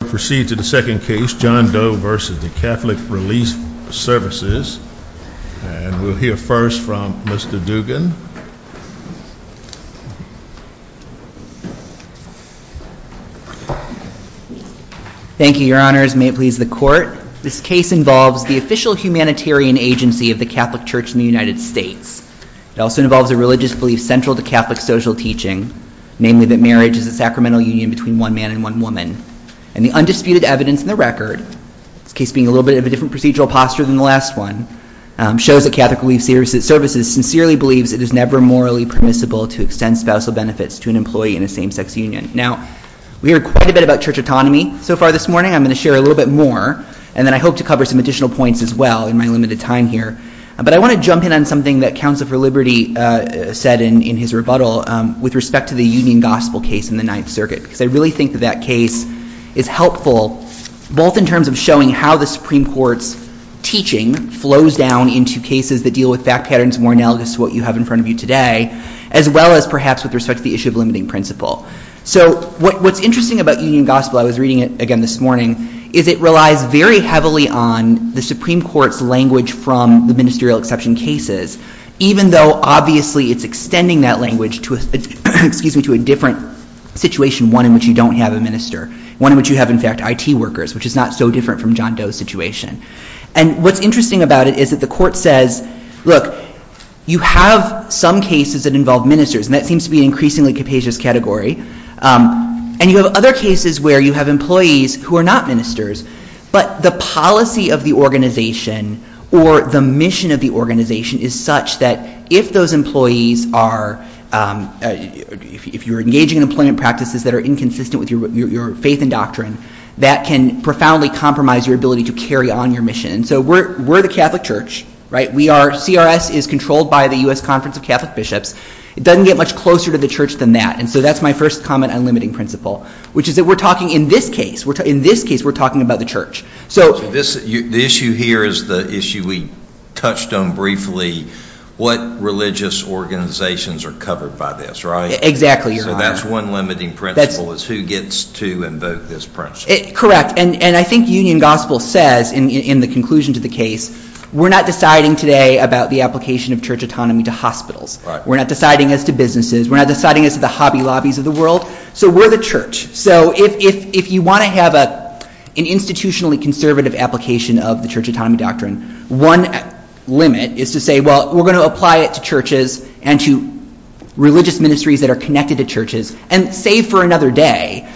We'll proceed to the second case, John Doe v. the Catholic Relief Services, and we'll hear first from Mr. Dugan. Thank you, Your Honors. May it please the Court. This case involves the official humanitarian agency of the Catholic Church in the United States. It also involves a religious belief central to Catholic social teaching, namely that marriage is a sacramental union between one man and one woman. And the undisputed evidence in the record, this case being a little bit of a different procedural posture than the last one, shows that Catholic Relief Services sincerely believes it is never morally permissible to extend spousal benefits to an employee in a same-sex union. Now, we heard quite a bit about church autonomy so far this morning. I'm going to share a little bit more, and then I hope to cover some additional points as well in my limited time here. But I want to jump in on something that Counsel for Liberty said in his rebuttal with respect to the Union Gospel case in the Ninth Circuit, because I really think that that case is helpful both in terms of showing how the Supreme Court's teaching flows down into cases that deal with fact patterns more analogous to what you have in front of you today, as well as perhaps with respect to the issue of limiting principle. So what's interesting about Union Gospel, I was reading it again this morning, is it relies very heavily on the Supreme Court's language from the ministerial exception cases, even though, obviously, it's extending that language to a different situation, one in which you don't have a minister, one in which you have, in fact, IT workers, which is not so different from John Doe's situation. And what's interesting about it is that the Court says, look, you have some cases that involve ministers, and that seems to be an increasingly capacious category, and you have other cases where you have employees who are not ministers, but the policy of the organization or the mission of the organization is such that if those employees are, if you're engaging in employment practices that are inconsistent with your faith and doctrine, that can profoundly compromise your ability to carry on your mission. So we're the Catholic Church, right? We are, CRS is controlled by the U.S. Conference of Catholic Bishops. It doesn't get much closer to the Church than that, and so that's my first comment on limiting principle, which is that we're talking, in this case, we're talking about the Church. So this, the issue here is the issue we touched on briefly, what religious organizations are covered by this, right? Exactly, Your Honor. So that's one limiting principle is who gets to invoke this principle. Correct, and I think Union Gospel says, in the conclusion to the case, we're not deciding today about the application of Church autonomy to hospitals. We're not deciding as to businesses. We're not deciding as to the hobby lobbies of the world. So we're the Church. So if you want to have an institutionally conservative application of the Church autonomy doctrine, one limit is to say, well, we're going to apply it to churches and to religious ministries that are connected to churches, and save for another day.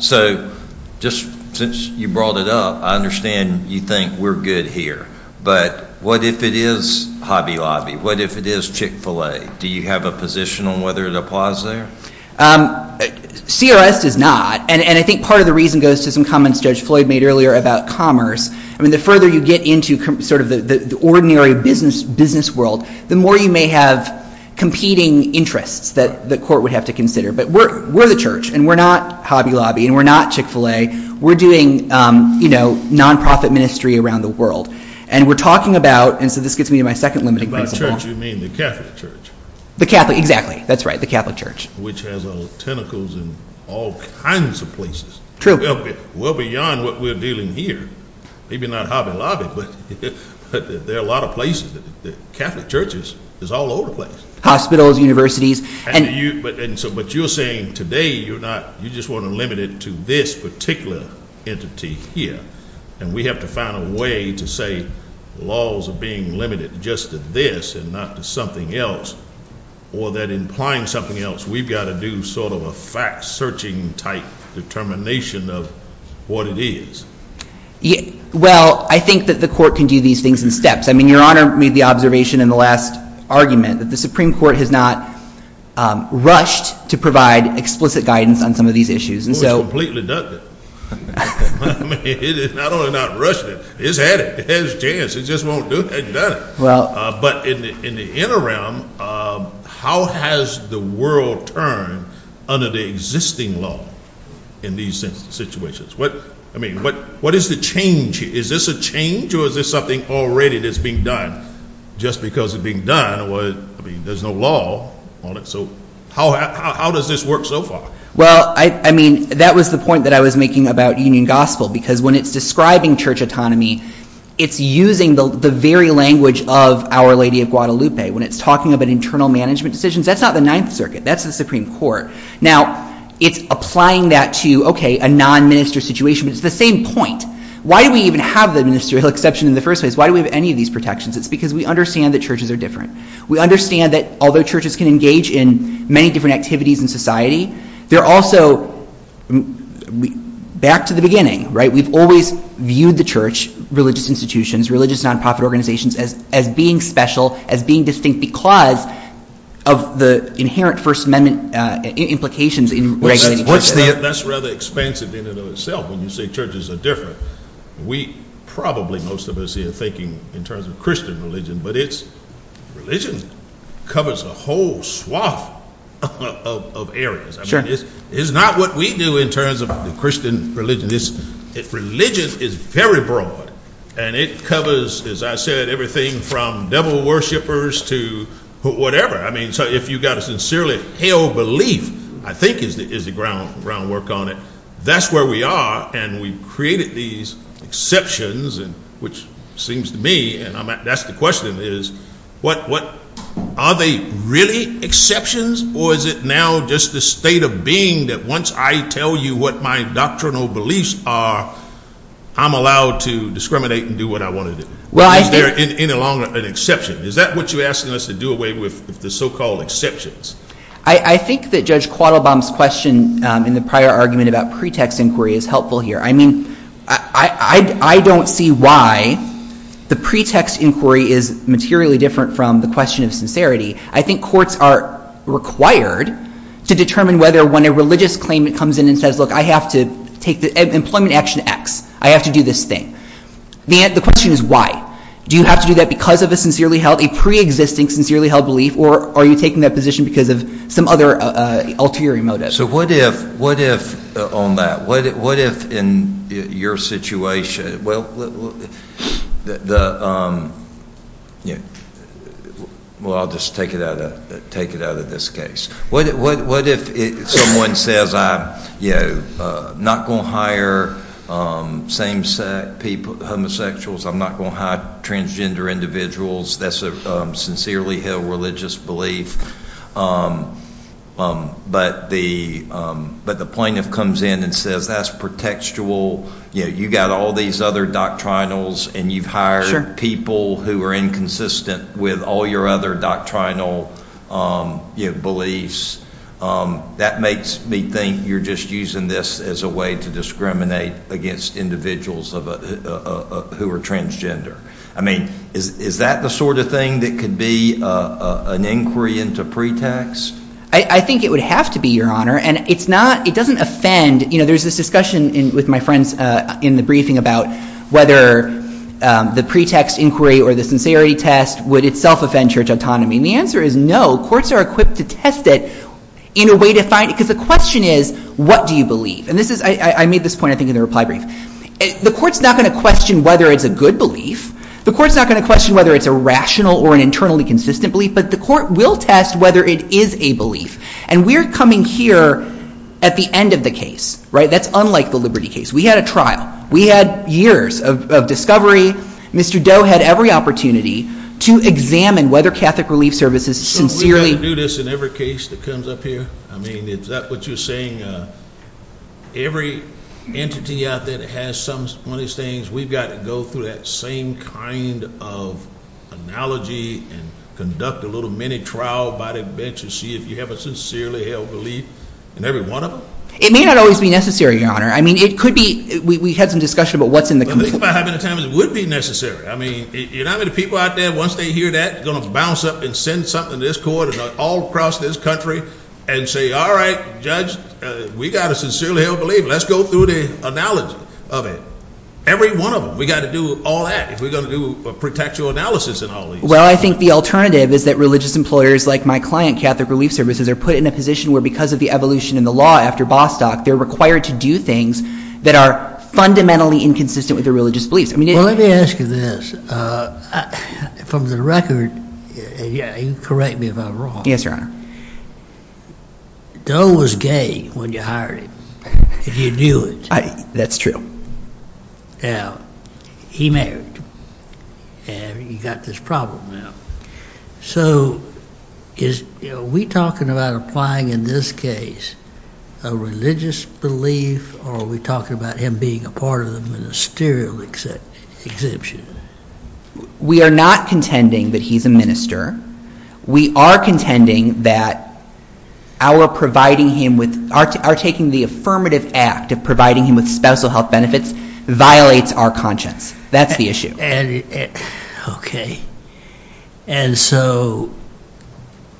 So just since you brought it up, I understand you think we're good here, but what if it is hobby lobby? What if it is Chick-fil-A? Do you have a position on whether it applies there? CRS does not, and I think part of the reason goes to some comments Judge Floyd made earlier about commerce. I mean, the further you get into sort of the ordinary business world, the more you may have competing interests that the Court would have to consider. But we're the Church, and we're not hobby lobby, and we're not Chick-fil-A. We're doing, you know, nonprofit ministry around the world. And we're talking about, and so this gets me to my second limiting principle. And by Church, you mean the Catholic Church? The Catholic, exactly. That's right, the Catholic Church. The Catholic Church, which has tentacles in all kinds of places, well beyond what we're dealing here. Maybe not hobby lobby, but there are a lot of places, Catholic churches, it's all over the place. Hospitals, universities. But you're saying today you're not, you just want to limit it to this particular entity here. And we have to find a way to say laws are being limited just to this and not to something else, or that implying something else, we've got to do sort of a fact-searching type determination of what it is. Yeah, well, I think that the Court can do these things in steps. I mean, Your Honor made the observation in the last argument that the Supreme Court has not rushed to provide explicit guidance on some of these issues, and so— Well, it's completely done that. I mean, it has not only not rushed it, it's had it, it's had its chance, it just won't do it. It hasn't done it. Well— But in the interim, how has the world turned under the existing law in these situations? What, I mean, what is the change? Is this a change or is this something already that's being done? Just because it's being done, I mean, there's no law on it, so how does this work so far? Well, I mean, that was the point that I was making about Union Gospel, because when it's describing church autonomy, it's using the very language of Our Lady of Guadalupe. When it's talking about internal management decisions, that's not the Ninth Circuit, that's the Supreme Court. Now, it's applying that to, okay, a non-minister situation, but it's the same point. Why do we even have the ministerial exception in the first place? Why do we have any of these protections? It's because we understand that churches are different. We understand that although churches can engage in many different activities in society, they're also—back to the beginning, right? We've always viewed the church, religious institutions, religious non-profit organizations as being special, as being distinct because of the inherent First Amendment implications in regulating churches. What's the— That's rather expansive in and of itself when you say churches are different. We probably, most of us here, are thinking in terms of Christian religion, but it's—religion covers a whole swath of areas. Sure. I mean, it's not what we do in terms of the Christian religion. Religion is very broad, and it covers, as I said, everything from devil worshipers to whatever. I mean, so if you've got a sincerely held belief, I think, is the groundwork on it. That's where we are, and we've created these exceptions, which seems to me, and that's the question, is what—are they really exceptions, or is it now just the state of being that once I tell you what my doctrinal beliefs are, I'm allowed to discriminate and do what I want to do? Well, I think— Is there any longer an exception? Is that what you're asking us to do away with, the so-called exceptions? I think that Judge Quattlebaum's question in the prior argument about pretext inquiry is helpful here. I mean, I don't see why the pretext inquiry is materially different from the question of sincerity. I think courts are required to determine whether when a religious claimant comes in and says, look, I have to take the employment action X. I have to do this thing. The question is why. Do you have to do that because of a sincerely held—a preexisting sincerely held belief, or are you taking that position because of some other ulterior motive? So what if, on that, what if in your situation—well, I'll just take it out of this case. What if someone says, I'm not going to hire same-sex homosexuals, I'm not going to hire transgender individuals, that's a sincerely held religious belief. But the plaintiff comes in and says, that's pretextual, you've got all these other doctrinals and you've hired people who are inconsistent with all your other doctrinal beliefs. That makes me think you're just using this as a way to discriminate against individuals who are transgender. I mean, is that the sort of thing that could be an inquiry into pretext? I think it would have to be, Your Honor. And it's not—it doesn't offend—you know, there's this discussion with my friends in the briefing about whether the pretext inquiry or the sincerity test would itself offend church autonomy. And the answer is no. Courts are equipped to test it in a way to find—because the question is, what do you And this is—I made this point, I think, in the reply brief. The court's not going to question whether it's a good belief. The court's not going to question whether it's a rational or an internally consistent belief. But the court will test whether it is a belief. And we're coming here at the end of the case, right? That's unlike the Liberty case. We had a trial. We had years of discovery. Mr. Doe had every opportunity to examine whether Catholic Relief Services sincerely— So we've got to do this in every case that comes up here? I mean, is that what you're saying? You're saying every entity out there that has some of these things, we've got to go through that same kind of analogy and conduct a little mini-trial by the bench and see if you have a sincerely held belief in every one of them? It may not always be necessary, Your Honor. I mean, it could be—we had some discussion about what's in the committee. But I think if I have any time, it would be necessary. I mean, you know how many people out there, once they hear that, are going to bounce up and send something to this court and all across this country and say, all right, Judge, we've got a sincerely held belief. Let's go through the analogy of it. Every one of them. We've got to do all that. If we're going to do a pretextual analysis in all of these. Well, I think the alternative is that religious employers like my client, Catholic Relief Services, are put in a position where because of the evolution in the law after Bostock, they're required to do things that are fundamentally inconsistent with their religious beliefs. Well, let me ask you this. From the record—and correct me if I'm wrong— Doe was gay when you hired him, if you knew it. That's true. Now, he married, and you've got this problem now. So are we talking about applying, in this case, a religious belief, or are we talking about him being a part of the ministerial exemption? We are not contending that he's a minister. We are contending that our providing him with—our taking the affirmative act of providing him with spousal health benefits violates our conscience. That's the issue. Okay. And so,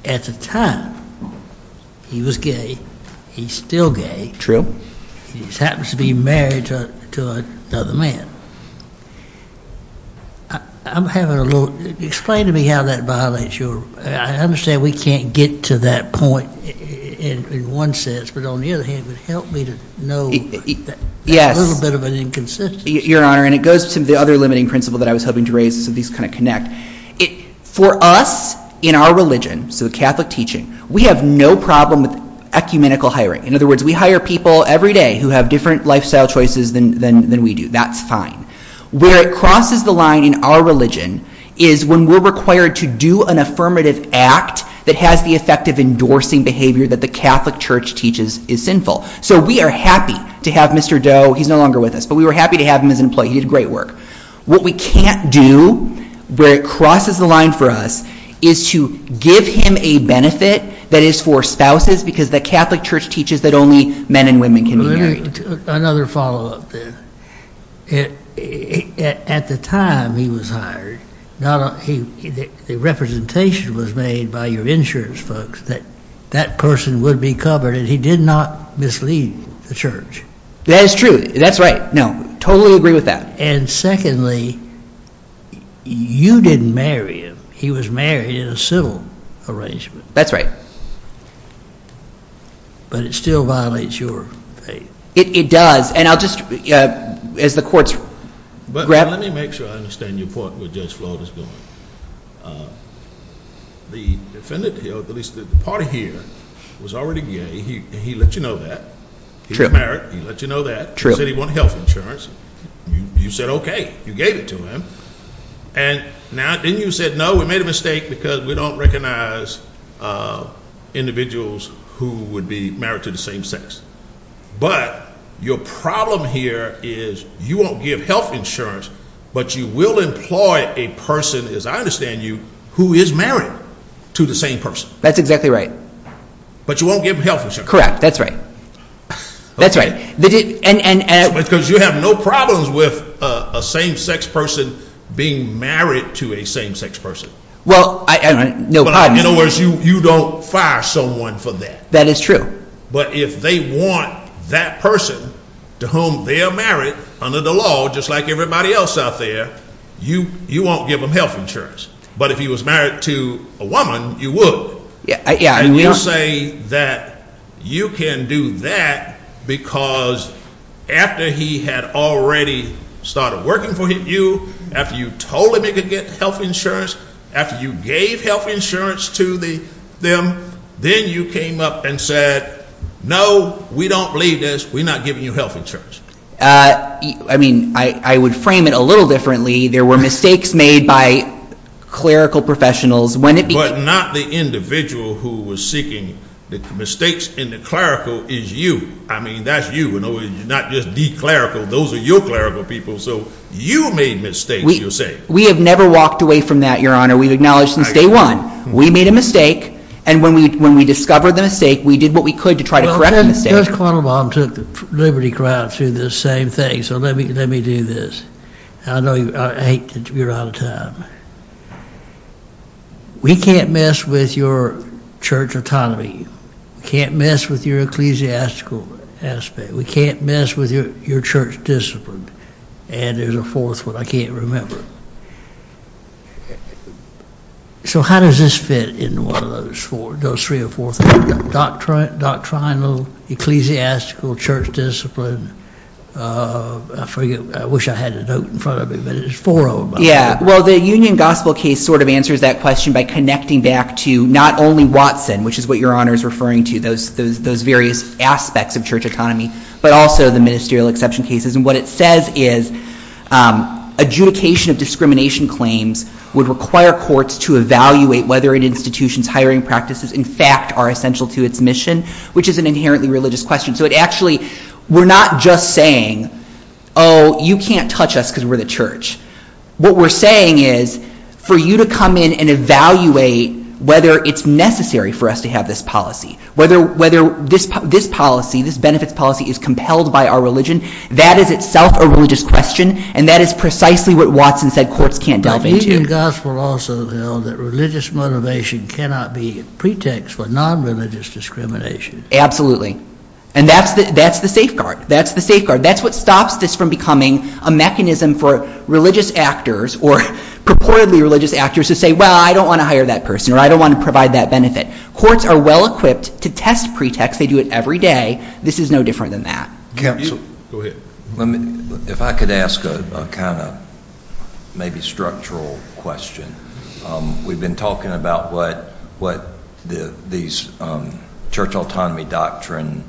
at the time, he was gay. He's still gay. True. He just happens to be married to another man. I'm having a little—explain to me how that violates your—I understand we can't get to that point in one sense, but on the other hand, it would help me to know a little bit of an inconsistency. Your Honor, and it goes to the other limiting principle that I was hoping to raise, so these kind of connect. For us, in our religion, so the Catholic teaching, we have no problem with ecumenical hiring. In other words, we hire people every day who have different lifestyle choices than we do. That's fine. Where it crosses the line in our religion is when we're required to do an affirmative act that has the effect of endorsing behavior that the Catholic Church teaches is sinful. So we are happy to have Mr. Doe—he's no longer with us, but we were happy to have him as an employee. He did great work. What we can't do, where it crosses the line for us, is to give him a benefit that is for spouses, because the Catholic Church teaches that only men and women can be married. Another follow-up there. At the time he was hired, the representation was made by your insurance folks that that person would be covered, and he did not mislead the Church. That is true. That's right. No. Totally agree with that. And secondly, you didn't marry him. He was married in a civil arrangement. That's right. But it still violates your faith. It does. And I'll just—as the court's— But let me make sure I understand your point where Judge Floyd is going. The defendant here, at least the party here, was already gay. He let you know that. True. He was married. He let you know that. True. He said he wanted health insurance. You said okay. You gave it to him. And now, didn't you say, no, we made a mistake because we don't recognize individuals who would be married to the same sex. But your problem here is you won't give health insurance, but you will employ a person, as I understand you, who is married to the same person. That's exactly right. But you won't give health insurance. Correct. That's right. That's right. Because you have no problems with a same-sex person being married to a same-sex person. Well, I—no, pardon me. In other words, you don't fire someone for that. That is true. But if they want that person to whom they are married under the law, just like everybody else out there, you won't give them health insurance. But if he was married to a woman, you would. Yeah. And you say that you can do that because after he had already started working for you, after you told him he could get health insurance, after you gave health insurance to them, then you came up and said, no, we don't believe this. We're not giving you health insurance. I mean, I would frame it a little differently. There were mistakes made by clerical professionals. But not the individual who was seeking the mistakes in the clerical is you. I mean, that's you. You're not just the clerical. Those are your clerical people. So you made mistakes, you're saying. We have never walked away from that, Your Honor. We've acknowledged since day one. We made a mistake, and when we discovered the mistake, we did what we could to try to correct the mistake. Well, Judge Cardinal Baum took the liberty crowd through the same thing. So let me do this. I hate that you're out of time. We can't mess with your church autonomy. We can't mess with your ecclesiastical aspect. We can't mess with your church discipline. And there's a fourth one I can't remember. So how does this fit in one of those three or four things? Doctrinal, ecclesiastical, church discipline. I wish I had a note in front of me, but it's four on my head. Yeah, well, the Union Gospel case sort of answers that question by connecting back to not only Watson, which is what Your Honor is referring to, those various aspects of church autonomy, but also the ministerial exception cases. And what it says is adjudication of discrimination claims would require courts to evaluate whether an institution's hiring practices, in fact, are essential to its mission, which is an inherently religious question. So it actually, we're not just saying, oh, you can't touch us because we're the church. What we're saying is for you to come in and evaluate whether it's necessary for us to have this policy, whether this policy, this benefits policy, is compelled by our religion, that is itself a religious question, and that is precisely what Watson said courts can't The Union Gospel also held that religious motivation cannot be a pretext for non-religious discrimination. Absolutely. And that's the safeguard. That's the safeguard. That's what stops this from becoming a mechanism for religious actors or purportedly religious actors to say, well, I don't want to hire that person, or I don't want to provide that benefit. Courts are well equipped to test pretext. They do it every day. This is no different than that. Counsel, go ahead. If I could ask a kind of maybe structural question. We've been talking about what these church autonomy doctrine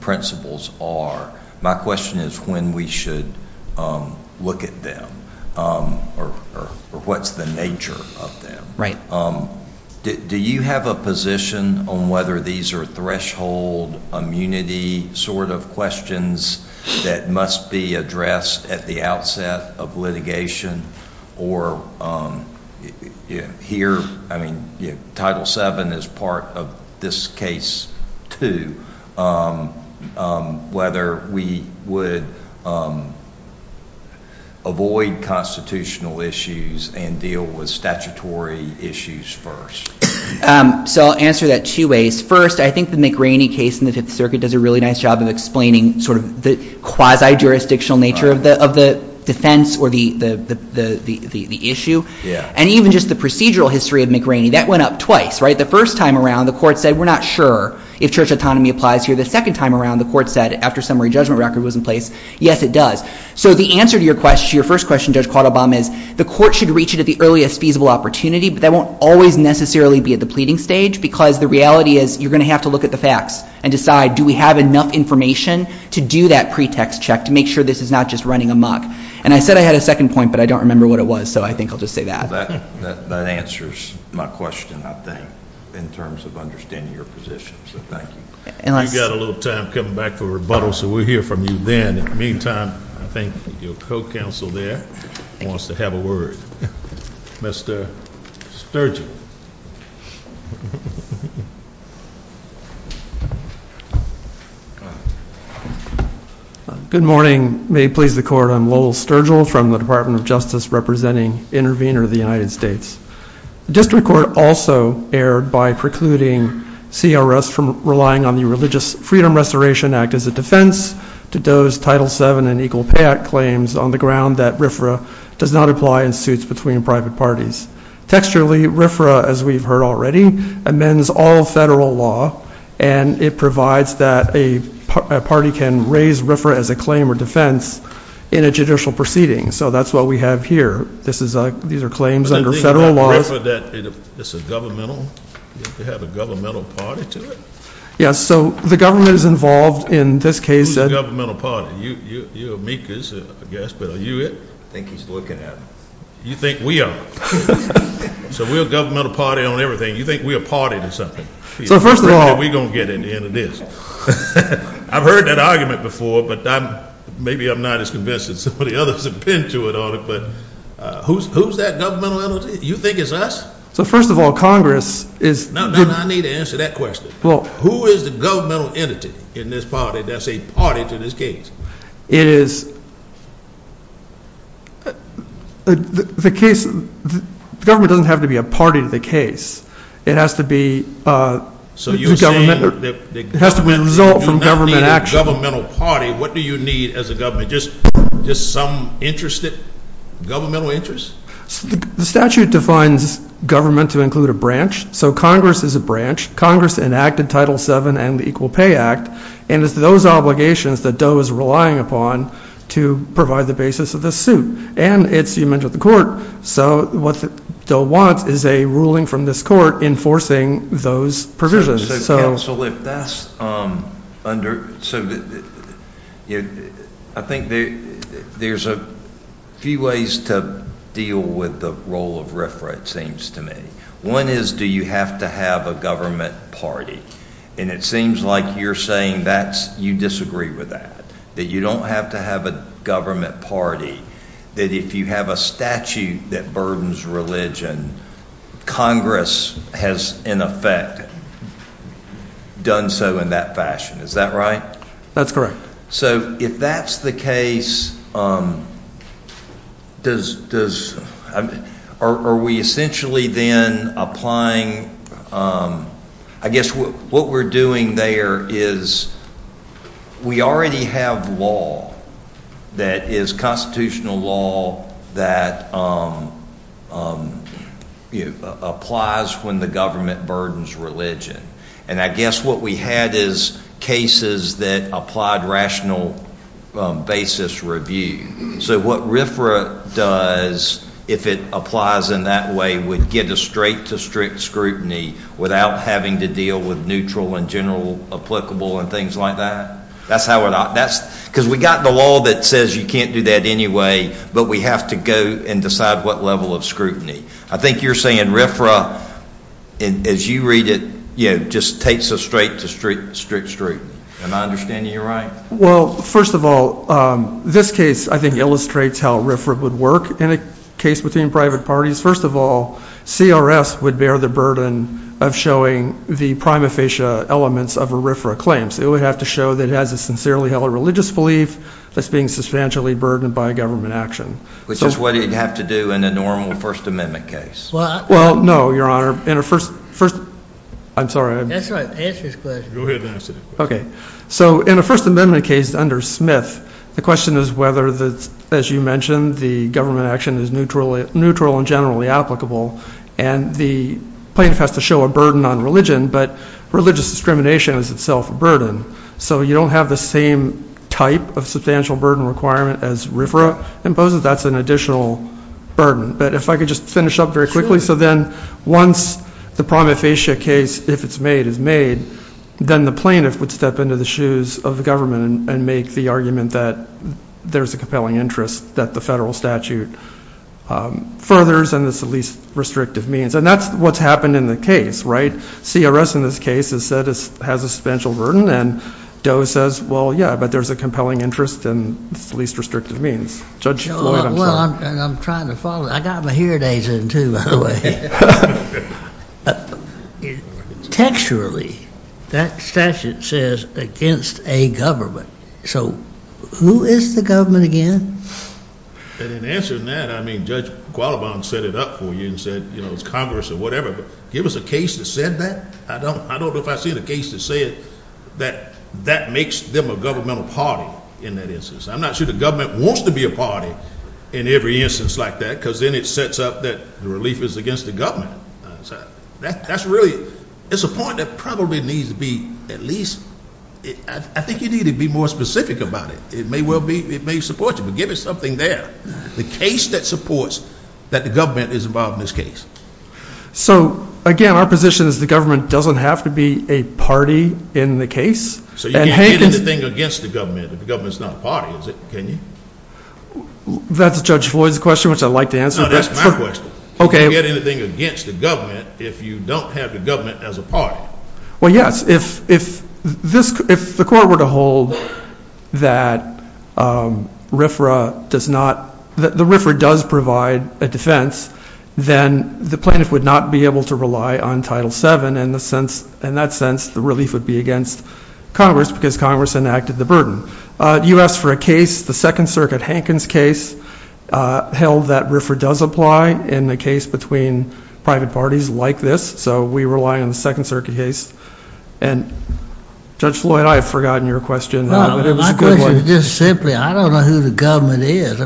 principles are. My question is when we should look at them or what's the nature of them. Do you have a position on whether these are threshold immunity sort of questions that must be addressed at the outset of litigation or here, I mean, Title VII is part of this case too, whether we would avoid constitutional issues and deal with statutory issues first. So I'll answer that two ways. First, I think the McRaney case in the Fifth Circuit does a really nice job of explaining sort of the quasi-jurisdictional nature of the defense or the issue. And even just the procedural history of McRaney, that went up twice, right? The first time around, the court said, we're not sure if church autonomy applies here. The second time around, the court said, after summary judgment record was in place, yes, it does. So the answer to your question, your first question, Judge Claude Obama, is the court should reach it at the earliest feasible opportunity, but that won't always necessarily be at the pleading stage because the reality is you're going to have to look at the facts and decide, do we have enough information to do that pretext check to make sure this is not just running a muck? And I said I had a second point, but I don't remember what it was, so I think I'll just say that. That answers my question, I think, in terms of understanding your position, so thank you. You've got a little time coming back for rebuttal, so we'll hear from you then. In the meantime, I think your co-counsel there wants to have a word. Mr. Sturgell. Good morning. May it please the court, I'm Lowell Sturgell from the Department of Justice representing Intervenor of the United States. The district court also erred by precluding CRS from relying on the Religious Freedom Restoration Act as a defense to Doe's Title VII and Equal Pay Act claims on the ground that RFRA does not apply in suits between private parties. Texturally, RFRA, as we've heard already, amends all federal law and it provides that a party can raise RFRA as a claim or defense in a judicial proceeding, so that's what we have here. These are claims under federal law. But the thing about RFRA is that it's a governmental, they have a governmental party to it? Yes, so the government is involved in this case. Who's the governmental party? You're amicus, I guess, but are you it? I think he's looking at me. You think we are? So we're a governmental party on everything, you think we're a party to something? So first of all, We're going to get in the end of this. I've heard that argument before, but maybe I'm not as convinced as some of the others have been to it already, but who's that governmental entity? You think it's us? So first of all, Congress is No, no, no, I need to answer that question. Who is the governmental entity in this party that's a party to this case? It is The case, the government doesn't have to be a party to the case. It has to be So you're saying that It has to be a result from government action You don't need a governmental party, what do you need as a government? Just some interest, governmental interest? The statute defines government to include a branch, so Congress is a branch. Congress enacted Title VII and the Equal Pay Act. And it's those obligations that DOE is relying upon to provide the basis of this suit. And it's, you mentioned the court, so what DOE wants is a ruling from this court enforcing those provisions. So counsel, if that's under, I think there's a few ways to deal with the role of RFRA, it seems to me. One is, do you have to have a government party? And it seems like you're saying that you disagree with that. That you don't have to have a government party. That if you have a statute that burdens religion, Congress has in effect done so in that fashion. Is that right? That's correct. So if that's the case, are we essentially then applying, I guess what we're doing there is we already have law that is constitutional law that applies when the government burdens religion. And I guess what we had is cases that applied rational basis review. So what RFRA does, if it applies in that way, would get a straight to strict scrutiny without having to deal with neutral and general applicable and things like that. That's how it, that's, because we got the law that says you can't do that anyway, but we have to go and decide what level of scrutiny. I think you're saying RFRA, as you read it, just takes a straight to strict scrutiny. And I understand you're right. Well, first of all, this case I think illustrates how RFRA would work in a case between private parties. First of all, CRS would bear the burden of showing the prima facie elements of a RFRA claim. So it would have to show that it has a sincerely held religious belief that's being substantially burdened by a government action. Which is what you'd have to do in a normal First Amendment case. Well, no, Your Honor, in a First Amendment case under Smith, the question is whether, as you mentioned, the government action is neutral and generally applicable. And the plaintiff has to show a burden on religion, but religious discrimination is itself a burden. So you don't have the same type of substantial burden requirement as RFRA imposes. That's an additional burden. But if I could just finish up very quickly. So then once the prima facie case, if it's made, is made, then the plaintiff would step into the shoes of the government and make the argument that there's a compelling interest that the federal statute furthers, and it's the least restrictive means. And that's what's happened in the case, right? CRS in this case has said it has a substantial burden, and DOE says, well, yeah, but there's a compelling interest, and it's the least restrictive means. Judge Floyd, I'm sorry. Well, and I'm trying to follow that. I got my hearing aids in, too, by the way. Texturally, that statute says against a government. So who is the government again? And in answering that, I mean, Judge Qualibon set it up for you and said, you know, it's Congress or whatever. Give us a case that said that? I don't know if I've seen a case that said that that makes them a governmental party in that instance. I'm not sure the government wants to be a party in every instance like that, because then it sets up that the relief is against the government. That's really, it's a point that probably needs to be at least, I think you need to be more specific about it. It may support you, but give us something there. The case that supports that the government is involved in this case. So, again, our position is the government doesn't have to be a party in the case. So you can't get anything against the government if the government's not a party, is it? Can you? That's Judge Floyd's question, which I'd like to answer. No, that's my question. You can't get anything against the government if you don't have the government as a party. Well, yes. If the court were to hold that RFRA does not, the RFRA does provide a defense, then the plaintiff would not be able to rely on Title VII. In that sense, the relief would be against Congress, because Congress enacted the burden. You asked for a case, the Second Circuit, Hankin's case, held that RFRA does apply in a case between private parties like this. So we rely on the Second Circuit case. And, Judge Floyd, I've forgotten your question. No, my question is just simply, I don't know who the government is.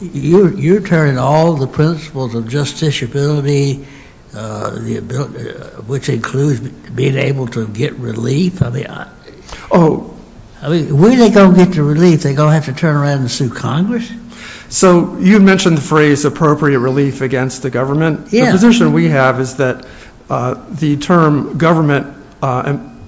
You're telling all the principles of justiciability, which includes being able to get relief. Where are they going to get the relief? Are they going to have to turn around and sue Congress? So you mentioned the phrase appropriate relief against the government. The position we have is that the term government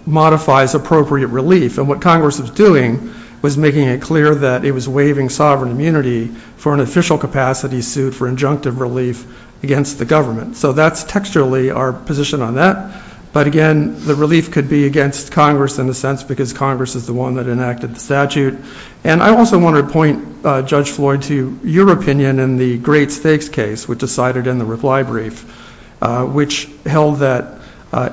modifies appropriate relief. And what Congress was doing was making it clear that it was waiving sovereign immunity for an official capacity suit for injunctive relief against the government. So that's textually our position on that. But again, the relief could be against Congress, in a sense, because Congress is the one that enacted the statute. And I also want to point, Judge Floyd, to your opinion in the Great Stakes case, which decided in the reply brief, which held that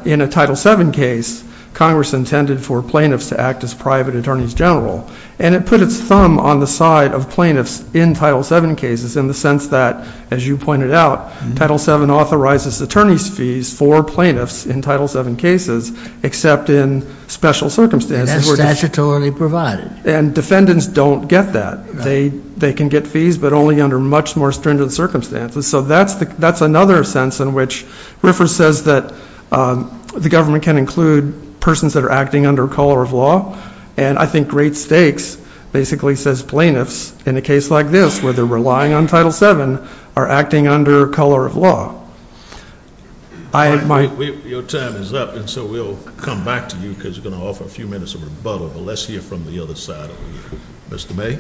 in a Title VII case, Congress intended for plaintiffs to act as private attorneys general. And it put its thumb on the side of plaintiffs in Title VII cases, in the sense that, as you pointed out, Title VII authorizes attorney's fees for plaintiffs in Title VII cases, except in special circumstances. And that's statutorily provided. And defendants don't get that. They can get fees, but only under much more stringent circumstances. So that's another sense in which Riffer says that the government can include persons that are acting under color of law. And I think Great Stakes basically says plaintiffs, in a case like this, where they're relying on Title VII, are acting under color of law. Your time is up, and so we'll come back to you, because you're going to offer a few minutes of rebuttal. But let's hear from the other side of you. Mr. May?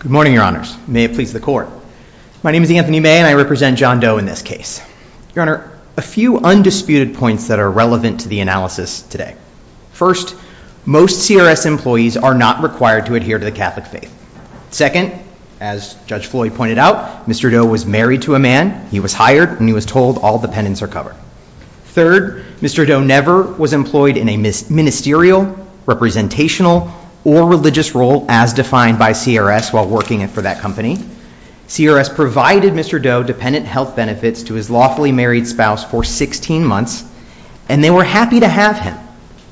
Good morning, Your Honors. May it please the Court. My name is Anthony May, and I represent John Doe in this case. Your Honor, a few undisputed points that are relevant to the analysis today. First, most CRS employees are not required to adhere to the Catholic faith. Second, as Judge Floyd pointed out, Mr. Doe was married to a man. He was hired, and he was told all dependents are covered. Third, Mr. Doe never was employed in a ministerial, representational, or religious role as defined by CRS while working for that company. CRS provided Mr. Doe dependent health benefits to his lawfully married spouse for 16 months, and they were happy to have him.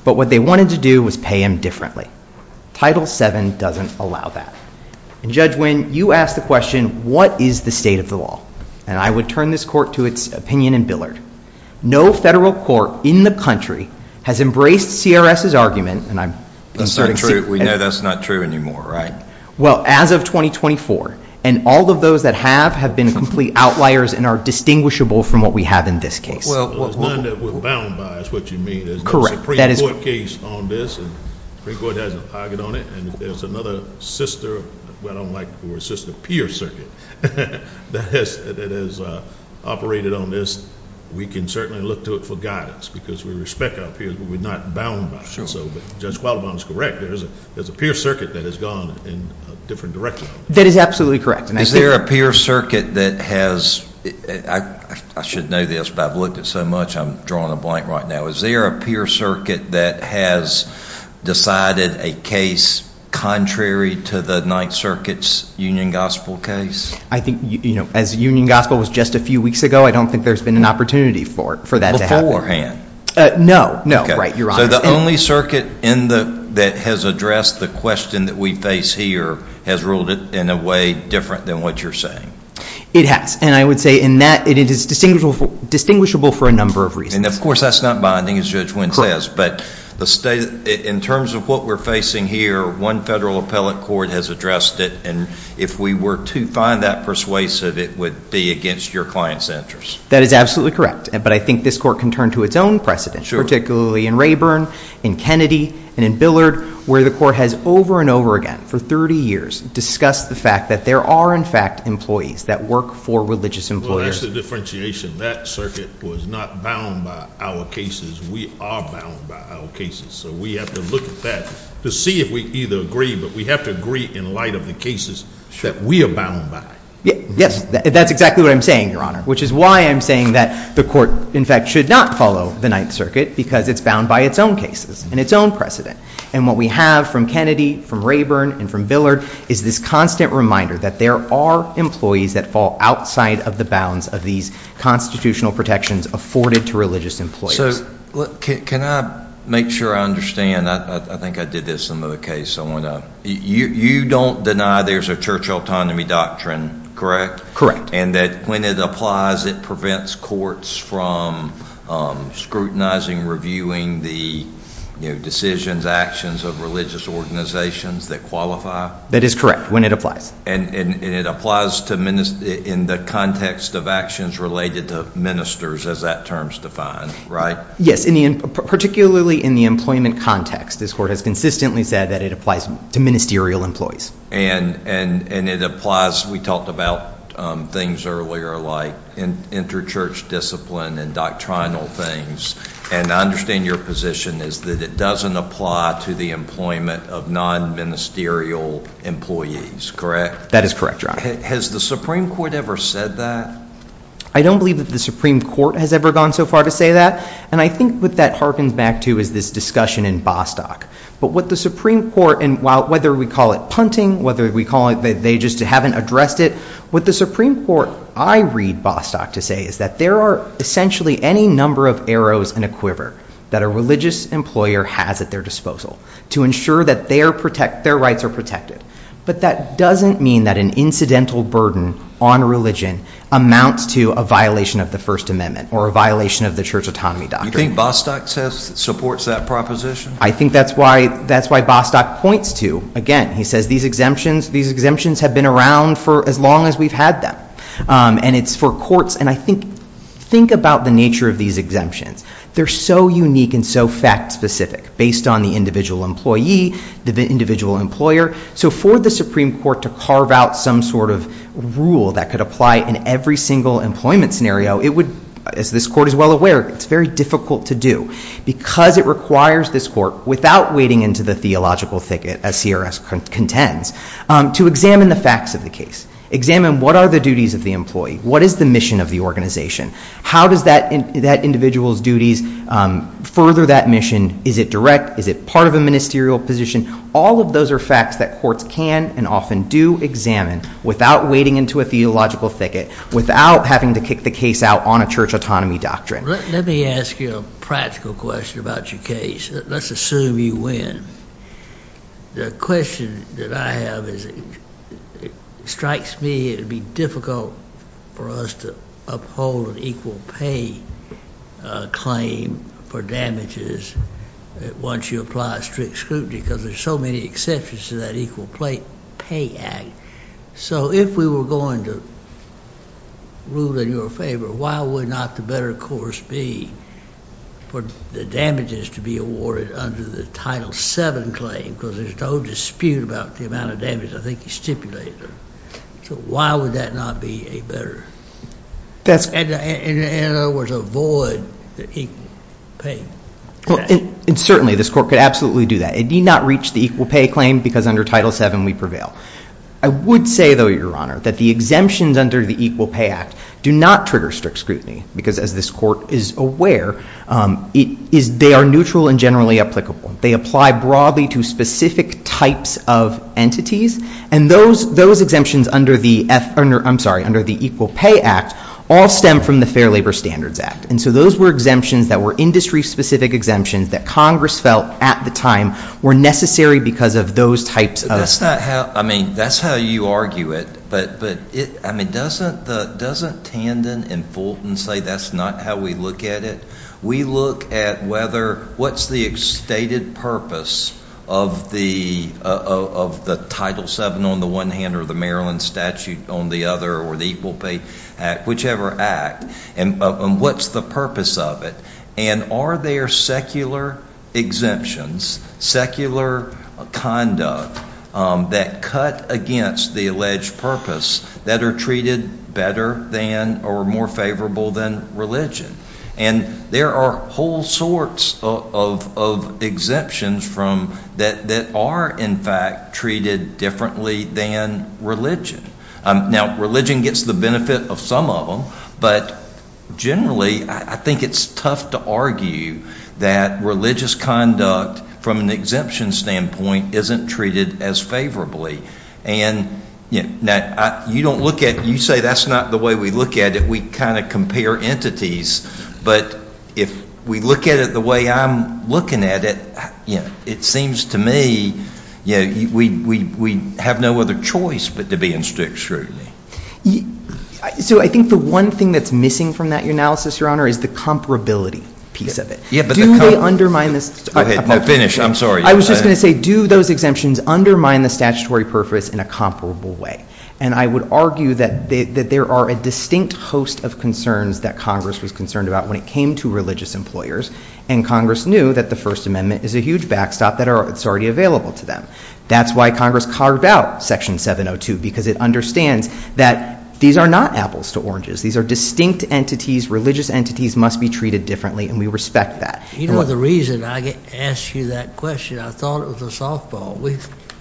But what they wanted to do was pay him differently. Title VII doesn't allow that. And Judge Nguyen, you asked the question, what is the state of the law? And I would turn this Court to its opinion in Billard. No federal court in the country has embraced CRS's argument, and I'm inserting secrets. We know that's not true anymore, right? Well, as of 2024, and all of those that have have been complete outliers and are distinguishable from what we have in this case. Well, there's none that we're bound by, is what you mean. There's no Supreme Court case on this. The Supreme Court has no pocket on it. And if there's another sister, I don't like the word sister, peer circuit that has operated on this, we can certainly look to it for guidance. Because we respect our peers, but we're not bound by it. So Judge Qualibon is correct. There's a peer circuit that has gone in a different direction. That is absolutely correct. Is there a peer circuit that has, I should know this, but I've looked at so much, I'm drawing a blank right now. Is there a peer circuit that has decided a case contrary to the Ninth Circuit's Union Gospel case? I think, you know, as Union Gospel was just a few weeks ago, I don't think there's been an opportunity for that to happen. Beforehand? No, no. Right, Your Honor. So the only circuit that has addressed the question that we face here has ruled it in a way different than what you're saying? It has. And I would say in that, it is distinguishable for a number of reasons. I mean, of course, that's not binding, as Judge Wynn says, but in terms of what we're facing here, one federal appellate court has addressed it, and if we were to find that persuasive, it would be against your client's interests. That is absolutely correct. But I think this court can turn to its own precedent, particularly in Rayburn, in Kennedy, and in Billard, where the court has over and over again, for 30 years, discussed the fact that there are, in fact, employees that work for religious employers. So that's the differentiation. That circuit was not bound by our cases. We are bound by our cases. So we have to look at that to see if we either agree, but we have to agree in light of the cases that we are bound by. Yes, that's exactly what I'm saying, Your Honor, which is why I'm saying that the court, in fact, should not follow the Ninth Circuit, because it's bound by its own cases and its own precedent. And what we have from Kennedy, from Rayburn, and from Billard is this constant reminder that there are employees that fall outside of the bounds of these constitutional protections afforded to religious employers. So, can I make sure I understand? I think I did this in another case. You don't deny there's a church autonomy doctrine, correct? Correct. And that when it applies, it prevents courts from scrutinizing, reviewing the decisions, actions of religious organizations that qualify? That is correct, when it applies. And it applies in the context of actions related to ministers, as that term is defined, right? Yes, particularly in the employment context. This court has consistently said that it applies to ministerial employees. And it applies, we talked about things earlier like inter-church discipline and doctrinal things. And I understand your position is that it doesn't apply to the employment of non-ministerial employees, correct? That is correct, Your Honor. Has the Supreme Court ever said that? I don't believe that the Supreme Court has ever gone so far to say that. And I think what that harkens back to is this discussion in Bostock. But what the Supreme Court, and whether we call it punting, whether we call it they just haven't addressed it, what the Supreme Court, I read Bostock to say, is that there are essentially any number of arrows in a quiver that a religious employer has at their disposal to ensure that their rights are protected. But that doesn't mean that an incidental burden on religion amounts to a violation of the First Amendment or a violation of the Church Autonomy Doctrine. Do you think Bostock supports that proposition? I think that's why Bostock points to, again, he says these exemptions have been around for as long as we've had them. And it's for courts, and I think, think about the nature of these exemptions. They're so unique and so fact-specific based on the individual employee, the individual employer, so for the Supreme Court to carve out some sort of rule that could apply in every single employment scenario, it would, as this Court is well aware, it's very difficult to do. Because it requires this Court, without wading into the theological thicket, as CRS contends, to examine the facts of the case. Examine what are the duties of the employee. What is the mission of the organization? How does that individual's duties further that mission? Is it direct? Is it part of a ministerial position? All of those are facts that courts can and often do examine, without wading into a theological thicket, without having to kick the case out on a Church Autonomy Doctrine. Let me ask you a practical question about your case. Let's assume you win. The question that I have is, it strikes me it would be difficult for us to uphold an equal pay claim for damages once you apply a strict scrutiny, because there's so many exceptions to that Equal Pay Act. So if we were going to rule in your favor, why would not the better course be for the damages to be awarded under the Title VII claim? Because there's no dispute about the amount of damage I think you stipulated. So why would that not be a better? In other words, avoid the equal pay. Certainly, this Court could absolutely do that. It need not reach the equal pay claim, because under Title VII we prevail. I would say, though, Your Honor, that the exemptions under the Equal Pay Act do not trigger strict scrutiny, because as this Court is aware, they are neutral and generally applicable. They apply broadly to specific types of entities, and those exemptions under the Equal Pay Act all stem from the Fair Labor Standards Act. So those were industry-specific exemptions that Congress felt at the time were necessary because of those types of... That's how you argue it, but doesn't Tandon and Fulton say that's not how we look at it? We look at whether what's the stated purpose of the Title VII on the one hand or the Maryland Statute on the other or the Equal Pay Act, whichever act, and what's the purpose of it, and are there secular exemptions, secular conduct that cut against the alleged purpose that are treated better than or more favorable than religion? And there are whole sorts of exemptions that are in fact treated differently than religion. Now, religion gets the benefit of some of them, but generally I think it's tough to argue that religious conduct from an exemption standpoint isn't treated as favorably. And you don't look at... You say that's not the way we look at it. We kind of compare entities, but if we look at it the way I'm looking at it, it seems to me we have no other choice but to be in strict scrutiny. So I think the one thing that's missing from that analysis, Your Honor, is the comparability piece of it. Do they undermine the... Finish. I'm sorry. I was just going to say, do those exemptions undermine the statutory purpose in a comparable way? And I would argue that there are a distinct host of concerns that Congress was concerned about when it came to religious employers, and Congress knew that the First Amendment is a huge backstop that's already available to them. That's why Congress carved out Section 702, because it understands that these are not apples to oranges. These are distinct entities. Religious entities must be treated differently, and we respect that. You know, the reason I asked you that question, I thought it was a softball.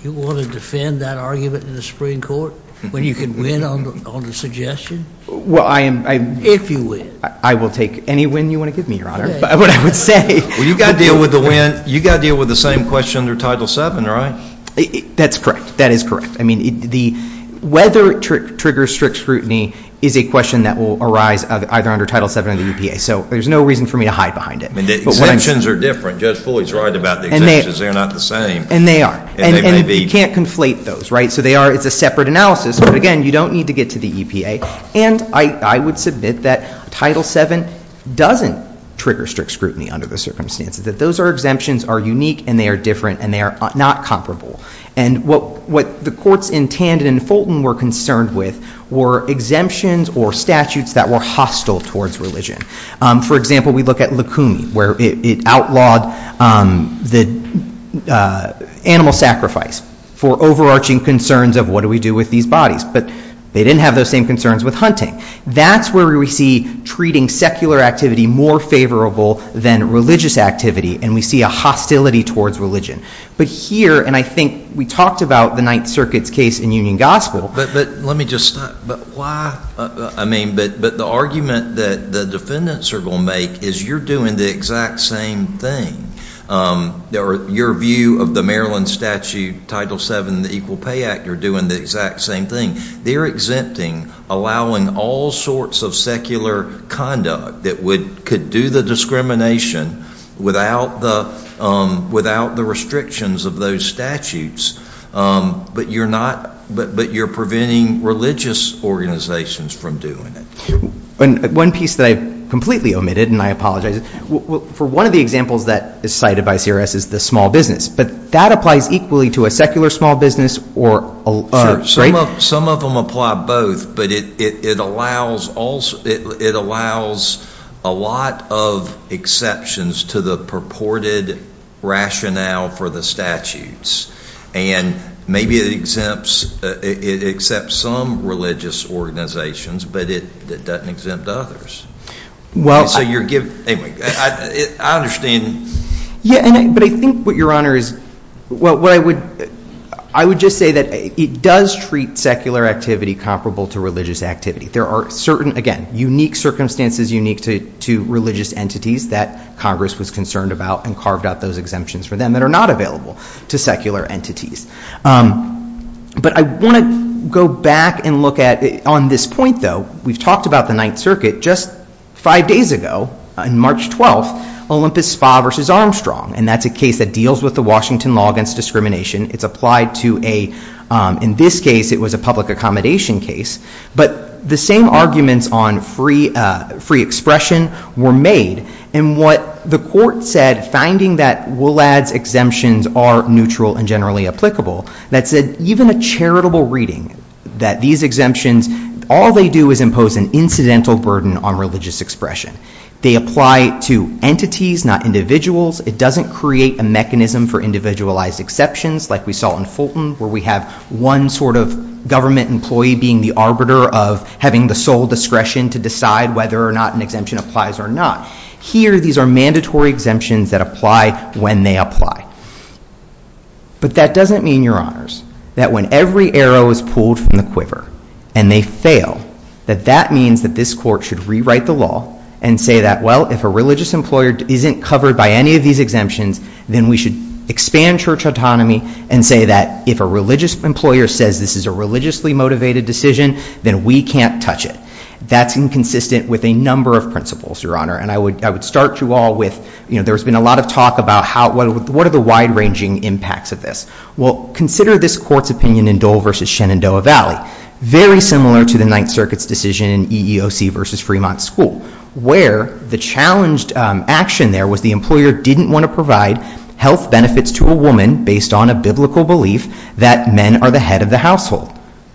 You want to defend that argument in the Supreme Court when you can win on the suggestion? Well, I am... If you win. I will take any win you want to give me, Your Honor. But what I would say... Well, you've got to deal with the win... You've got to deal with the same question under Title VII, right? That's correct. That is correct. I mean, the... Whether it triggers strict scrutiny is a question that will arise either under Title VII or the UPA, so there's no reason for me to hide behind it. But what I'm... And the exemptions are different. Judge Foley's right about the exemptions. They're not the same. And they are. And you can't conflate those, right? So they are... It's a separate analysis. But again, you don't need to get to the EPA. And I would submit that Title VII doesn't trigger strict scrutiny under the circumstances, that those exemptions are unique, and they are different, and they are not comparable. And what the courts in Tandon and Fulton were concerned with were exemptions or statutes that were hostile towards religion. For example, we look at Lukumi, where it outlawed the animal sacrifice for overarching concerns of, what do we do with these bodies? But they didn't have those same concerns with hunting. That's where we see treating secular activity more favorable than religious activity, and we see a hostility towards religion. But here... And I think we talked about the Ninth Circuit's case in Union Gospel... But let me just stop. But why... I mean, but the argument that the defendants are going to make is you're doing the exact same thing. Your view of the Maryland Statute, Title VII, and the Equal Pay Act are doing the exact same thing. They're exempting, allowing all sorts of secular conduct that could do the discrimination without the restrictions of those statutes. But you're not... But you're preventing religious organizations from doing it. One piece that I completely omitted, and I apologize, for one of the examples that is cited by CRS is the small business. But that applies equally to a secular small business or... Sure, some of them apply both, but it allows a lot of exceptions to the purported rationale for the statutes. And maybe it exempts... It accepts some religious organizations, but it doesn't exempt others. Well... So you're giving... Anyway, I understand... Yeah, but I think what, Your Honor, is... What I would... I would just say that it does treat secular activity comparable to religious activity. There are certain, again, unique circumstances, unique to religious entities that Congress was concerned about and carved out those exemptions for them that are not available to secular entities. But I want to go back and look at... On this point, though, we've talked about the Ninth Circuit just five days ago, on March 12th, Olympus Spa v. Armstrong. And that's a case that deals with the Washington law against discrimination. It's applied to a... In this case, it was a public accommodation case. But the same arguments on free expression were made. And what the court said, finding that WLAD's exemptions are neutral and generally applicable, that said even a charitable reading that these exemptions, all they do is impose an incidental burden on religious expression. They apply to entities, not individuals. It doesn't create a mechanism for individualized exceptions, like we saw in Fulton, where we have one sort of government employee being the arbiter of having the sole discretion to decide whether or not an exemption applies or not. Here, these are mandatory exemptions that apply when they apply. But that doesn't mean, Your Honors, that when every arrow is pulled from the quiver and they fail, that that means that this court should rewrite the law and say that, well, if a religious employer isn't covered by any of these exemptions, then we should expand church autonomy and say that if a religious employer says this is a religiously motivated decision, then we can't touch it. That's inconsistent with a number of principles, Your Honor. And I would start you all with, you know, there's been a lot of talk about how... What are the wide-ranging impacts of this? Well, consider this court's opinion in Dole v. Shenandoah Valley. Very similar to the Ninth Circuit's decision in EEOC v. Fremont School, where the challenged action there was the employer didn't want to provide health benefits to a woman based on a biblical belief that men are the head of the household.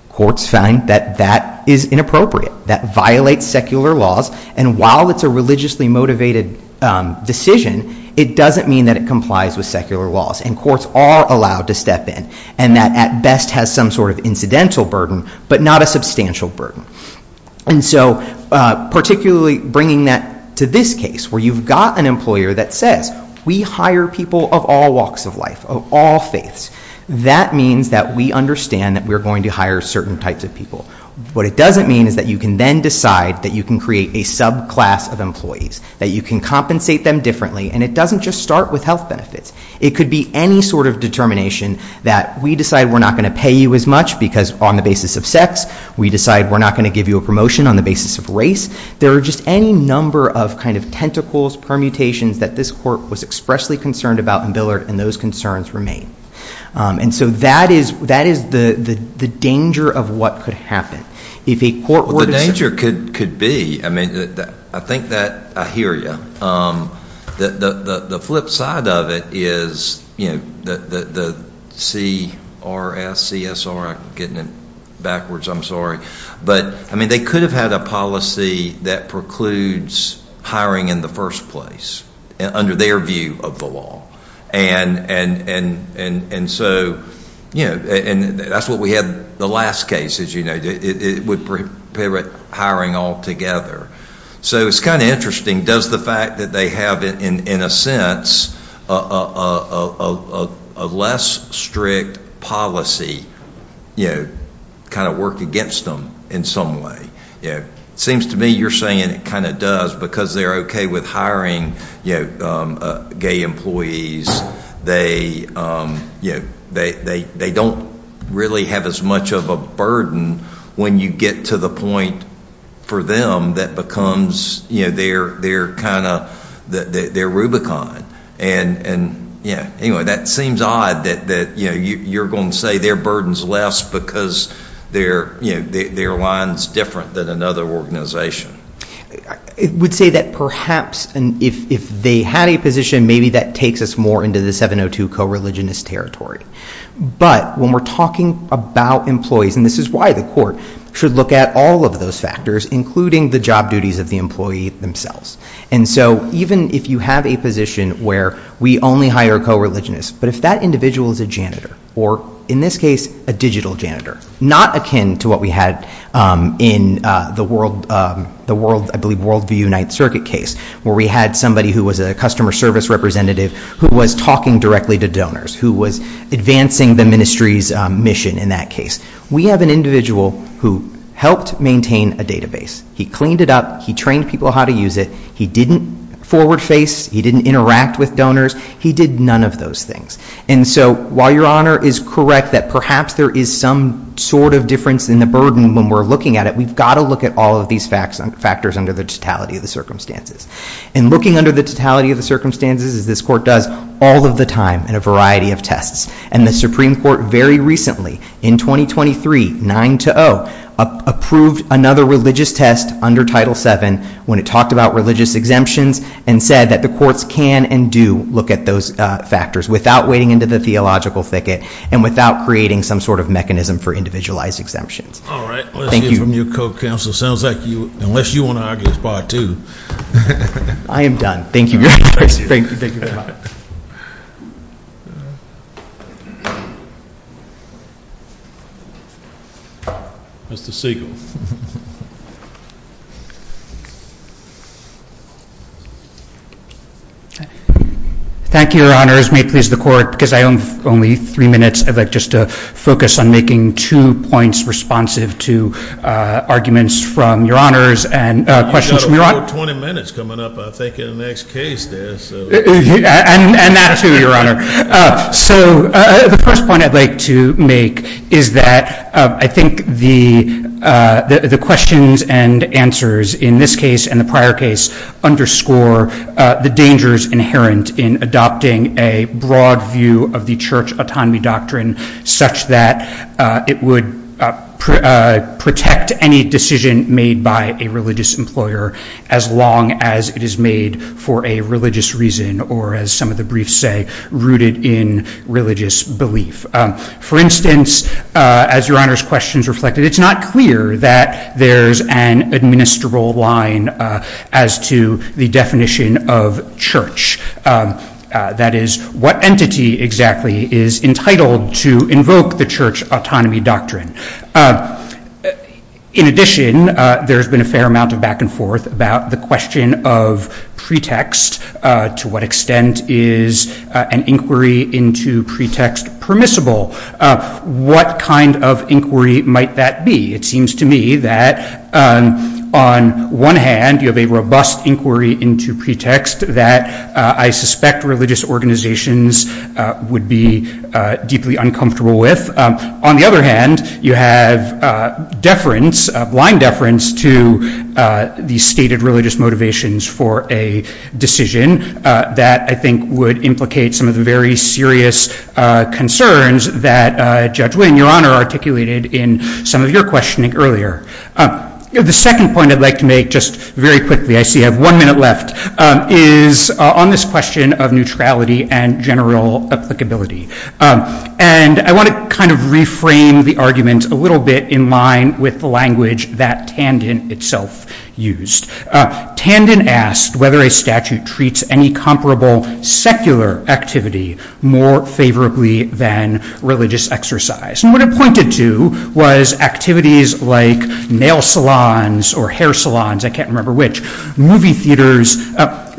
Courts find that that is inappropriate. That violates secular laws. And while it's a religiously motivated decision, it doesn't mean that it complies with secular laws. And courts are allowed to step in, and that at best has some sort of incidental burden, but not a substantial burden. And so, particularly bringing that to this case, where you've got an employer that says, we hire people of all walks of life, of all faiths. That means that we understand that we're going to hire certain types of people. What it doesn't mean is that you can then decide that you can create a subclass of employees, that you can compensate them differently, and it doesn't just start with health benefits. It could be any sort of determination that we decide we're not going to pay you as much, because on the basis of sex, we decide we're not going to give you a promotion on the basis of race. There are just any number of tentacles, permutations that this court was expressly concerned about in Billard, and those concerns remain. And so that is the danger of what could happen. If a court were to say... The danger could be... I think that I hear you. The flip side of it is, you know, the CRS, CSR... I'm getting it backwards, I'm sorry. But, I mean, they could have had a policy that precludes hiring in the first place, under their view of the law. And so, you know... And that's what we had in the last case, as you know. It would prohibit hiring altogether. So it's kind of interesting. Does the fact that they have, in a sense, a less strict policy, you know, kind of work against them in some way? It seems to me you're saying it kind of does, because they're OK with hiring gay employees. They don't really have as much of a burden when you get to the point for them that becomes, you know, their kind of... their Rubicon. And, yeah, anyway, that seems odd that you're going to say their burden's less because their line's different than another organization. I would say that perhaps if they had a position, maybe that takes us more into the 702 co-religionist territory. But when we're talking about employees, and this is why the court should look at all of those factors, including the job duties of the employee themselves. And so even if you have a position where we only hire co-religionists, but if that individual is a janitor, or in this case a digital janitor, not akin to what we had in the World... I believe Worldview 9th Circuit case, where we had somebody who was a customer service representative who was talking directly to donors, who was advancing the ministry's mission in that case. We have an individual who helped maintain a database. He cleaned it up, he trained people how to use it, he didn't forward-face, he didn't interact with donors, he did none of those things. And so while Your Honor is correct that perhaps there is some sort of difference in the burden when we're looking at it, we've got to look at all of these factors under the totality of the circumstances. And looking under the totality of the circumstances, as this court does all of the time in a variety of tests, and the Supreme Court very recently, in 2023, 9-0, approved another religious test under Title VII when it talked about religious exemptions and said that the courts can and do look at those factors without wading into the theological thicket and without creating some sort of mechanism for individualized exemptions. All right, let's hear from your co-counsel. Sounds like you... unless you want to argue as part two. I am done. Thank you, Your Honor. Thank you, thank you. Mr. Siegel. Thank you, Your Honors. May it please the Court, because I only have three minutes, I'd like just to focus on making two points responsive to arguments from Your Honors and questions from Your Honor. You've got about 20 minutes coming up, I think, in the next case there, so... And that too, Your Honor. So the first point I'd like to make is that I think the questions and answers in this case and the prior case underscore the dangers inherent in adopting a broad view of the church autonomy doctrine such that it would protect any decision made by a religious employer as long as it is made for a religious reason or, as some of the briefs say, rooted in religious belief. For instance, as Your Honor's questions reflected, it's not clear that there's an administrable line as to the definition of church. That is, what entity exactly is entitled to invoke the church autonomy doctrine? In addition, there's been a fair amount of back-and-forth about the question of pretext. To what extent is an inquiry into pretext permissible? What kind of inquiry might that be? It seems to me that on one hand, you have a robust inquiry into pretext that I suspect religious organizations would be deeply uncomfortable with. On the other hand, you have deference, blind deference, to the stated religious motivations for a decision that I think would implicate some of the very serious concerns that Judge Wynn, Your Honor, articulated in some of your questioning earlier. The second point I'd like to make just very quickly, I see I have one minute left, is on this question of neutrality and general applicability. And I want to kind of reframe the argument a little bit in line with the language that Tandon itself used. Tandon asked whether a statute treats any comparable secular activity more favorably than religious exercise. And what it pointed to was activities like nail salons or hair salons, I can't remember which, movie theaters.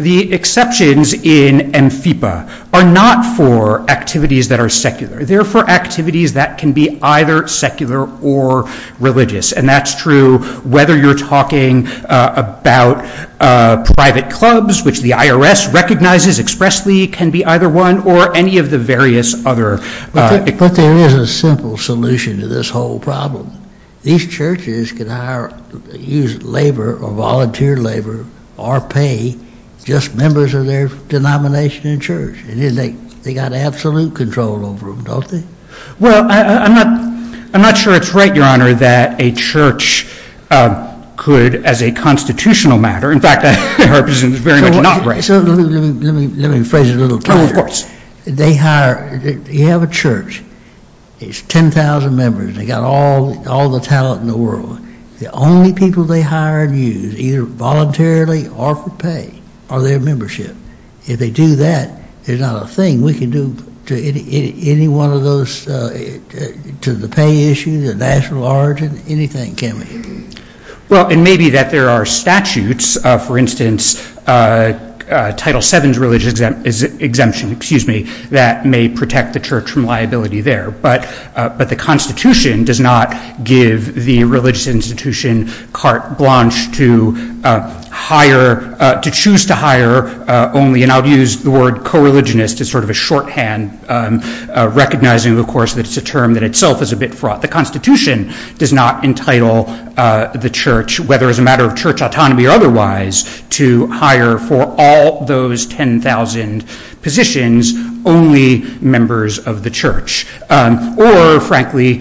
The exceptions in AmfIPA are not for activities that are secular. They're for activities that can be either secular or religious. And that's true whether you're talking about private clubs, which the IRS recognizes expressly can be either one or any of the various other... But there is a simple solution to this whole problem. These churches can hire, use labor or volunteer labor or pay just members of their denomination in church. They got absolute control over them, don't they? Well, I'm not sure it's right, Your Honor, that a church could, as a constitutional matter, in fact, I represent it very much not right. Let me phrase it a little clearer. Of course. They hire, you have a church. It's 10,000 members. They got all the talent in the world. The only people they hire and use, either voluntarily or for pay, are their membership. If they do that, it's not a thing we can do to any one of those... to the pay issue, the national origin, anything, can we? Well, it may be that there are statutes, for instance, Title VII's religious exemption, excuse me, that may protect the church from liability there. But the Constitution does not give the religious institution carte blanche to hire... to choose to hire only, and I'll use the word co-religionist as sort of a shorthand, recognizing, of course, that it's a term that itself is a bit fraught. The Constitution does not entitle the church, whether as a matter of church autonomy or otherwise, to hire for all those 10,000 positions only members of the church. Or, frankly,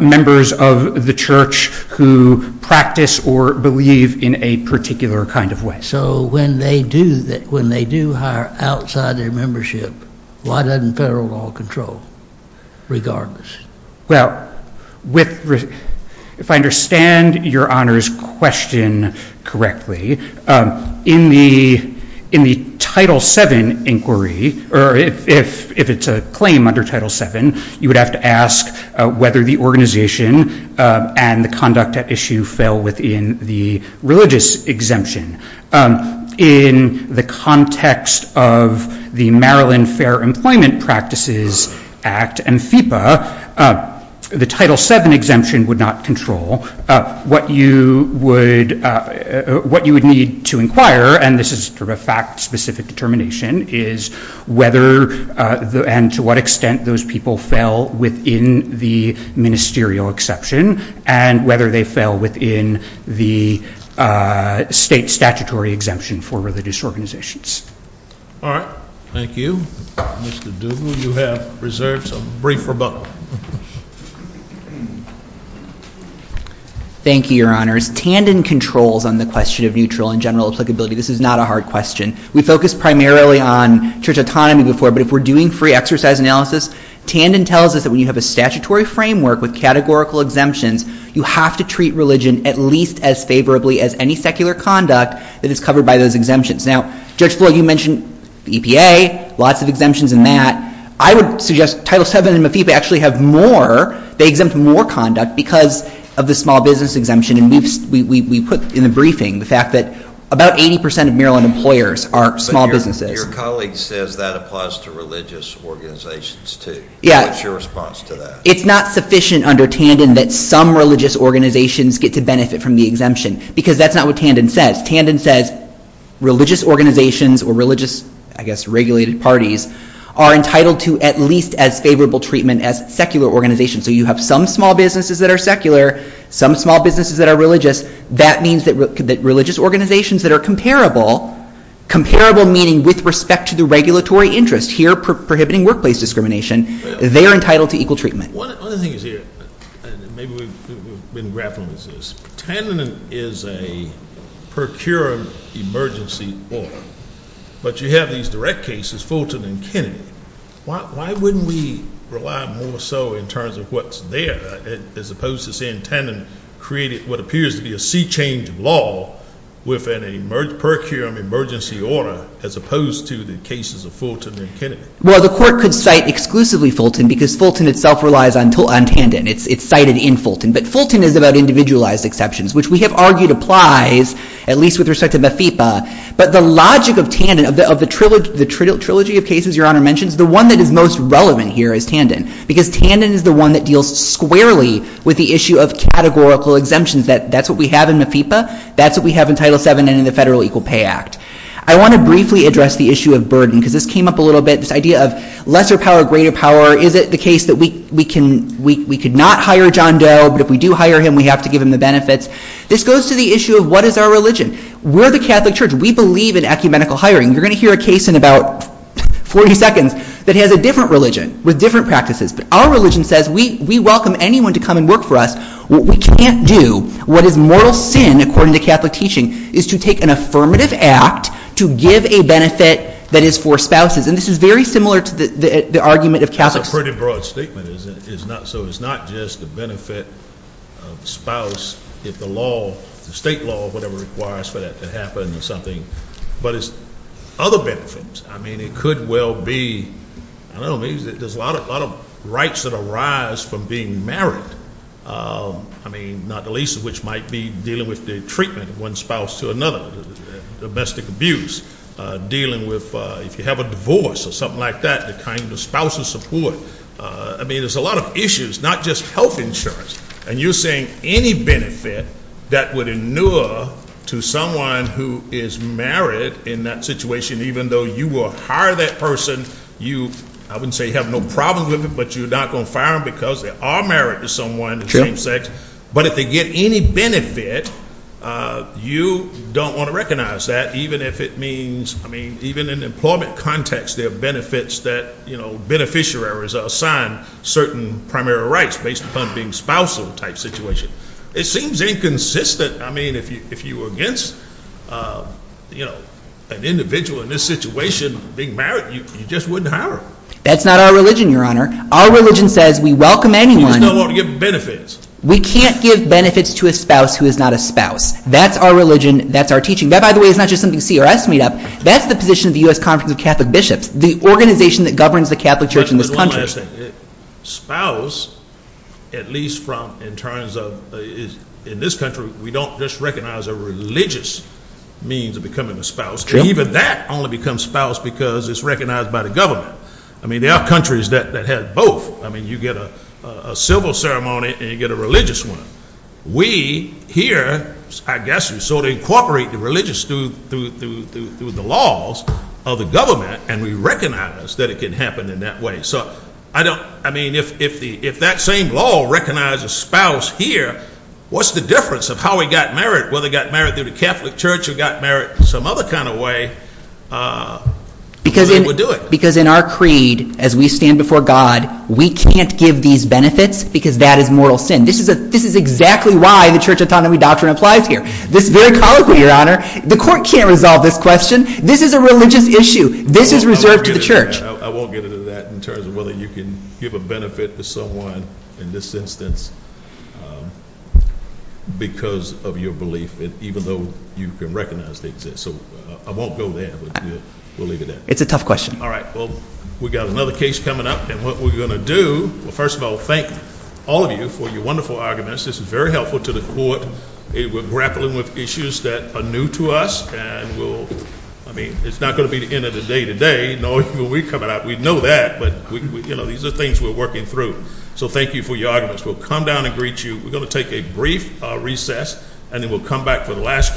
members of the church who practice or believe in a particular kind of way. So when they do hire outside their membership, why doesn't federal law control, regardless? Well, with... if I understand Your Honor's question correctly, in the Title VII inquiry, or if it's a claim under Title VII, you would have to ask whether the organization and the conduct at issue fell within the religious exemption. In the context of the Maryland Fair Employment Practices Act and FEPA, the Title VII exemption would not control. What you would... what you would need to inquire, and this is sort of a fact-specific determination, is whether and to what extent those people fell within the ministerial exception, and whether they fell within the state statutory exemption for religious organizations. All right, thank you. Mr. Duggan, you have reserves of brief rebuttal. Thank you, Your Honors. Tandon controls on the question of neutral and general applicability. This is not a hard question. We focused primarily on church autonomy before, but if we're doing free exercise analysis, Tandon tells us that when you have a statutory framework with categorical exemptions, you have to treat religion at least as favorably as any secular conduct that is covered by those exemptions. Now, Judge Floyd, you mentioned the EPA, lots of exemptions in that. I would suggest Title VII and MFIPA actually have more. They exempt more conduct because of the small business exemption, and we put in the briefing the fact that about 80% of Maryland employers are small businesses. Your colleague says that applies to religious organizations, too. What's your response to that? It's not sufficient under Tandon that some religious organizations get to benefit from the exemption, because that's not what Tandon says. Tandon says religious organizations or religious, I guess, regulated parties are entitled to at least as favorable treatment as secular organizations. So you have some small businesses that are secular, some small businesses that are religious. That means that religious organizations that are comparable, comparable meaning with respect to the regulatory interest, here prohibiting workplace discrimination, they are entitled to equal treatment. One of the things here, maybe we've been grappling with this, Tandon is a procuring emergency law, but you have these direct cases, Fulton and Kennedy. Why wouldn't we rely more so in terms of what's there as opposed to saying Tandon created what appears to be a sea change of law with a procuring emergency order as opposed to the cases of Fulton and Kennedy? Well, the court could cite exclusively Fulton because Fulton itself relies on Tandon. It's cited in Fulton. But Fulton is about individualized exceptions, which we have argued applies, at least with respect to MFIPA. But the logic of Tandon, of the trilogy of cases Your Honor mentions, the one that is most relevant here is Tandon, because Tandon is the one that deals squarely with the issue of categorical exemptions. That's what we have in MFIPA. That's what we have in Title VII and in the Federal Equal Pay Act. I want to briefly address the issue of burden, because this came up a little bit, this idea of lesser power, greater power. Is it the case that we could not hire John Doe, but if we do hire him, we have to give him the benefits? This goes to the issue of what is our religion? We're the Catholic Church. We believe in ecumenical hiring. You're going to hear a case in about 40 seconds that has a different religion with different practices. But our religion says we welcome anyone to come and work for us. What we can't do, what is moral sin, according to Catholic teaching, is to take an affirmative act to give a benefit that is for spouses. And this is very similar to the argument of Catholics. That's a pretty broad statement. So it's not just the benefit of the spouse if the law, the state law or whatever requires for that to happen or something, but it's other benefits. I mean, it could well be, I don't know, there's a lot of rights that arise from being married. I mean, not the least of which might be dealing with the treatment of one spouse to another, domestic abuse, dealing with if you have a divorce or something like that, the kind of spousal support. I mean, there's a lot of issues, not just health insurance. And you're saying any benefit that would inure to someone who is married in that situation, even though you will hire that person, you, I wouldn't say have no problems with it, but you're not going to fire them because they are married to someone of the same sex. But if they get any benefit, you don't want to recognize that. Even if it means, I mean, even in an employment context, there are benefits that, you know, beneficiaries are assigned certain primary rights based upon being spousal type situation. It seems inconsistent. I mean, if you were against, you know, an individual in this situation being married, you just wouldn't hire him. That's not our religion, Your Honor. Our religion says we welcome anyone. You just don't want to give them benefits. We can't give benefits to a spouse who is not a spouse. That's our religion. That's our teaching. That, by the way, is not just something CRS made up. That's the position of the U.S. Conference of Catholic Bishops, the organization that governs the Catholic Church in this country. One last thing. Spouse, at least from, in terms of, in this country, we don't just recognize a religious means of becoming a spouse. True. And even that only becomes spouse because it's recognized by the government. I mean, there are countries that have both. I mean, you get a civil ceremony and you get a religious one. We here, I guess, sort of incorporate the religious through the laws of the government and we recognize that it can happen in that way. So, I don't, I mean, if that same law recognizes spouse here, what's the difference of how we got married, whether we got married through the Catholic Church or got married some other kind of way, we wouldn't do it. Because in our creed, as we stand before God, we can't give these benefits because that is mortal sin. This is exactly why the Church Autonomy Doctrine applies here. This very colloquy, Your Honor, the court can't resolve this question. This is a religious issue. This is reserved to the Church. I won't get into that in terms of whether you can give a benefit to someone in this instance because of your belief, even though you can recognize they exist. So, I won't go there, but we'll leave it at that. It's a tough question. All right. Well, we've got another case coming up and what we're going to do, well, first of all, thank all of you for your wonderful arguments. This is very helpful to the court. We're grappling with issues that are new to us and we'll, I mean, it's not going to be the end of the day today. No, when we come out, we know that. But, you know, these are things we're working through. So, thank you for your arguments. We'll come down and greet you. We're going to take a brief recess and then we'll come back for the last case.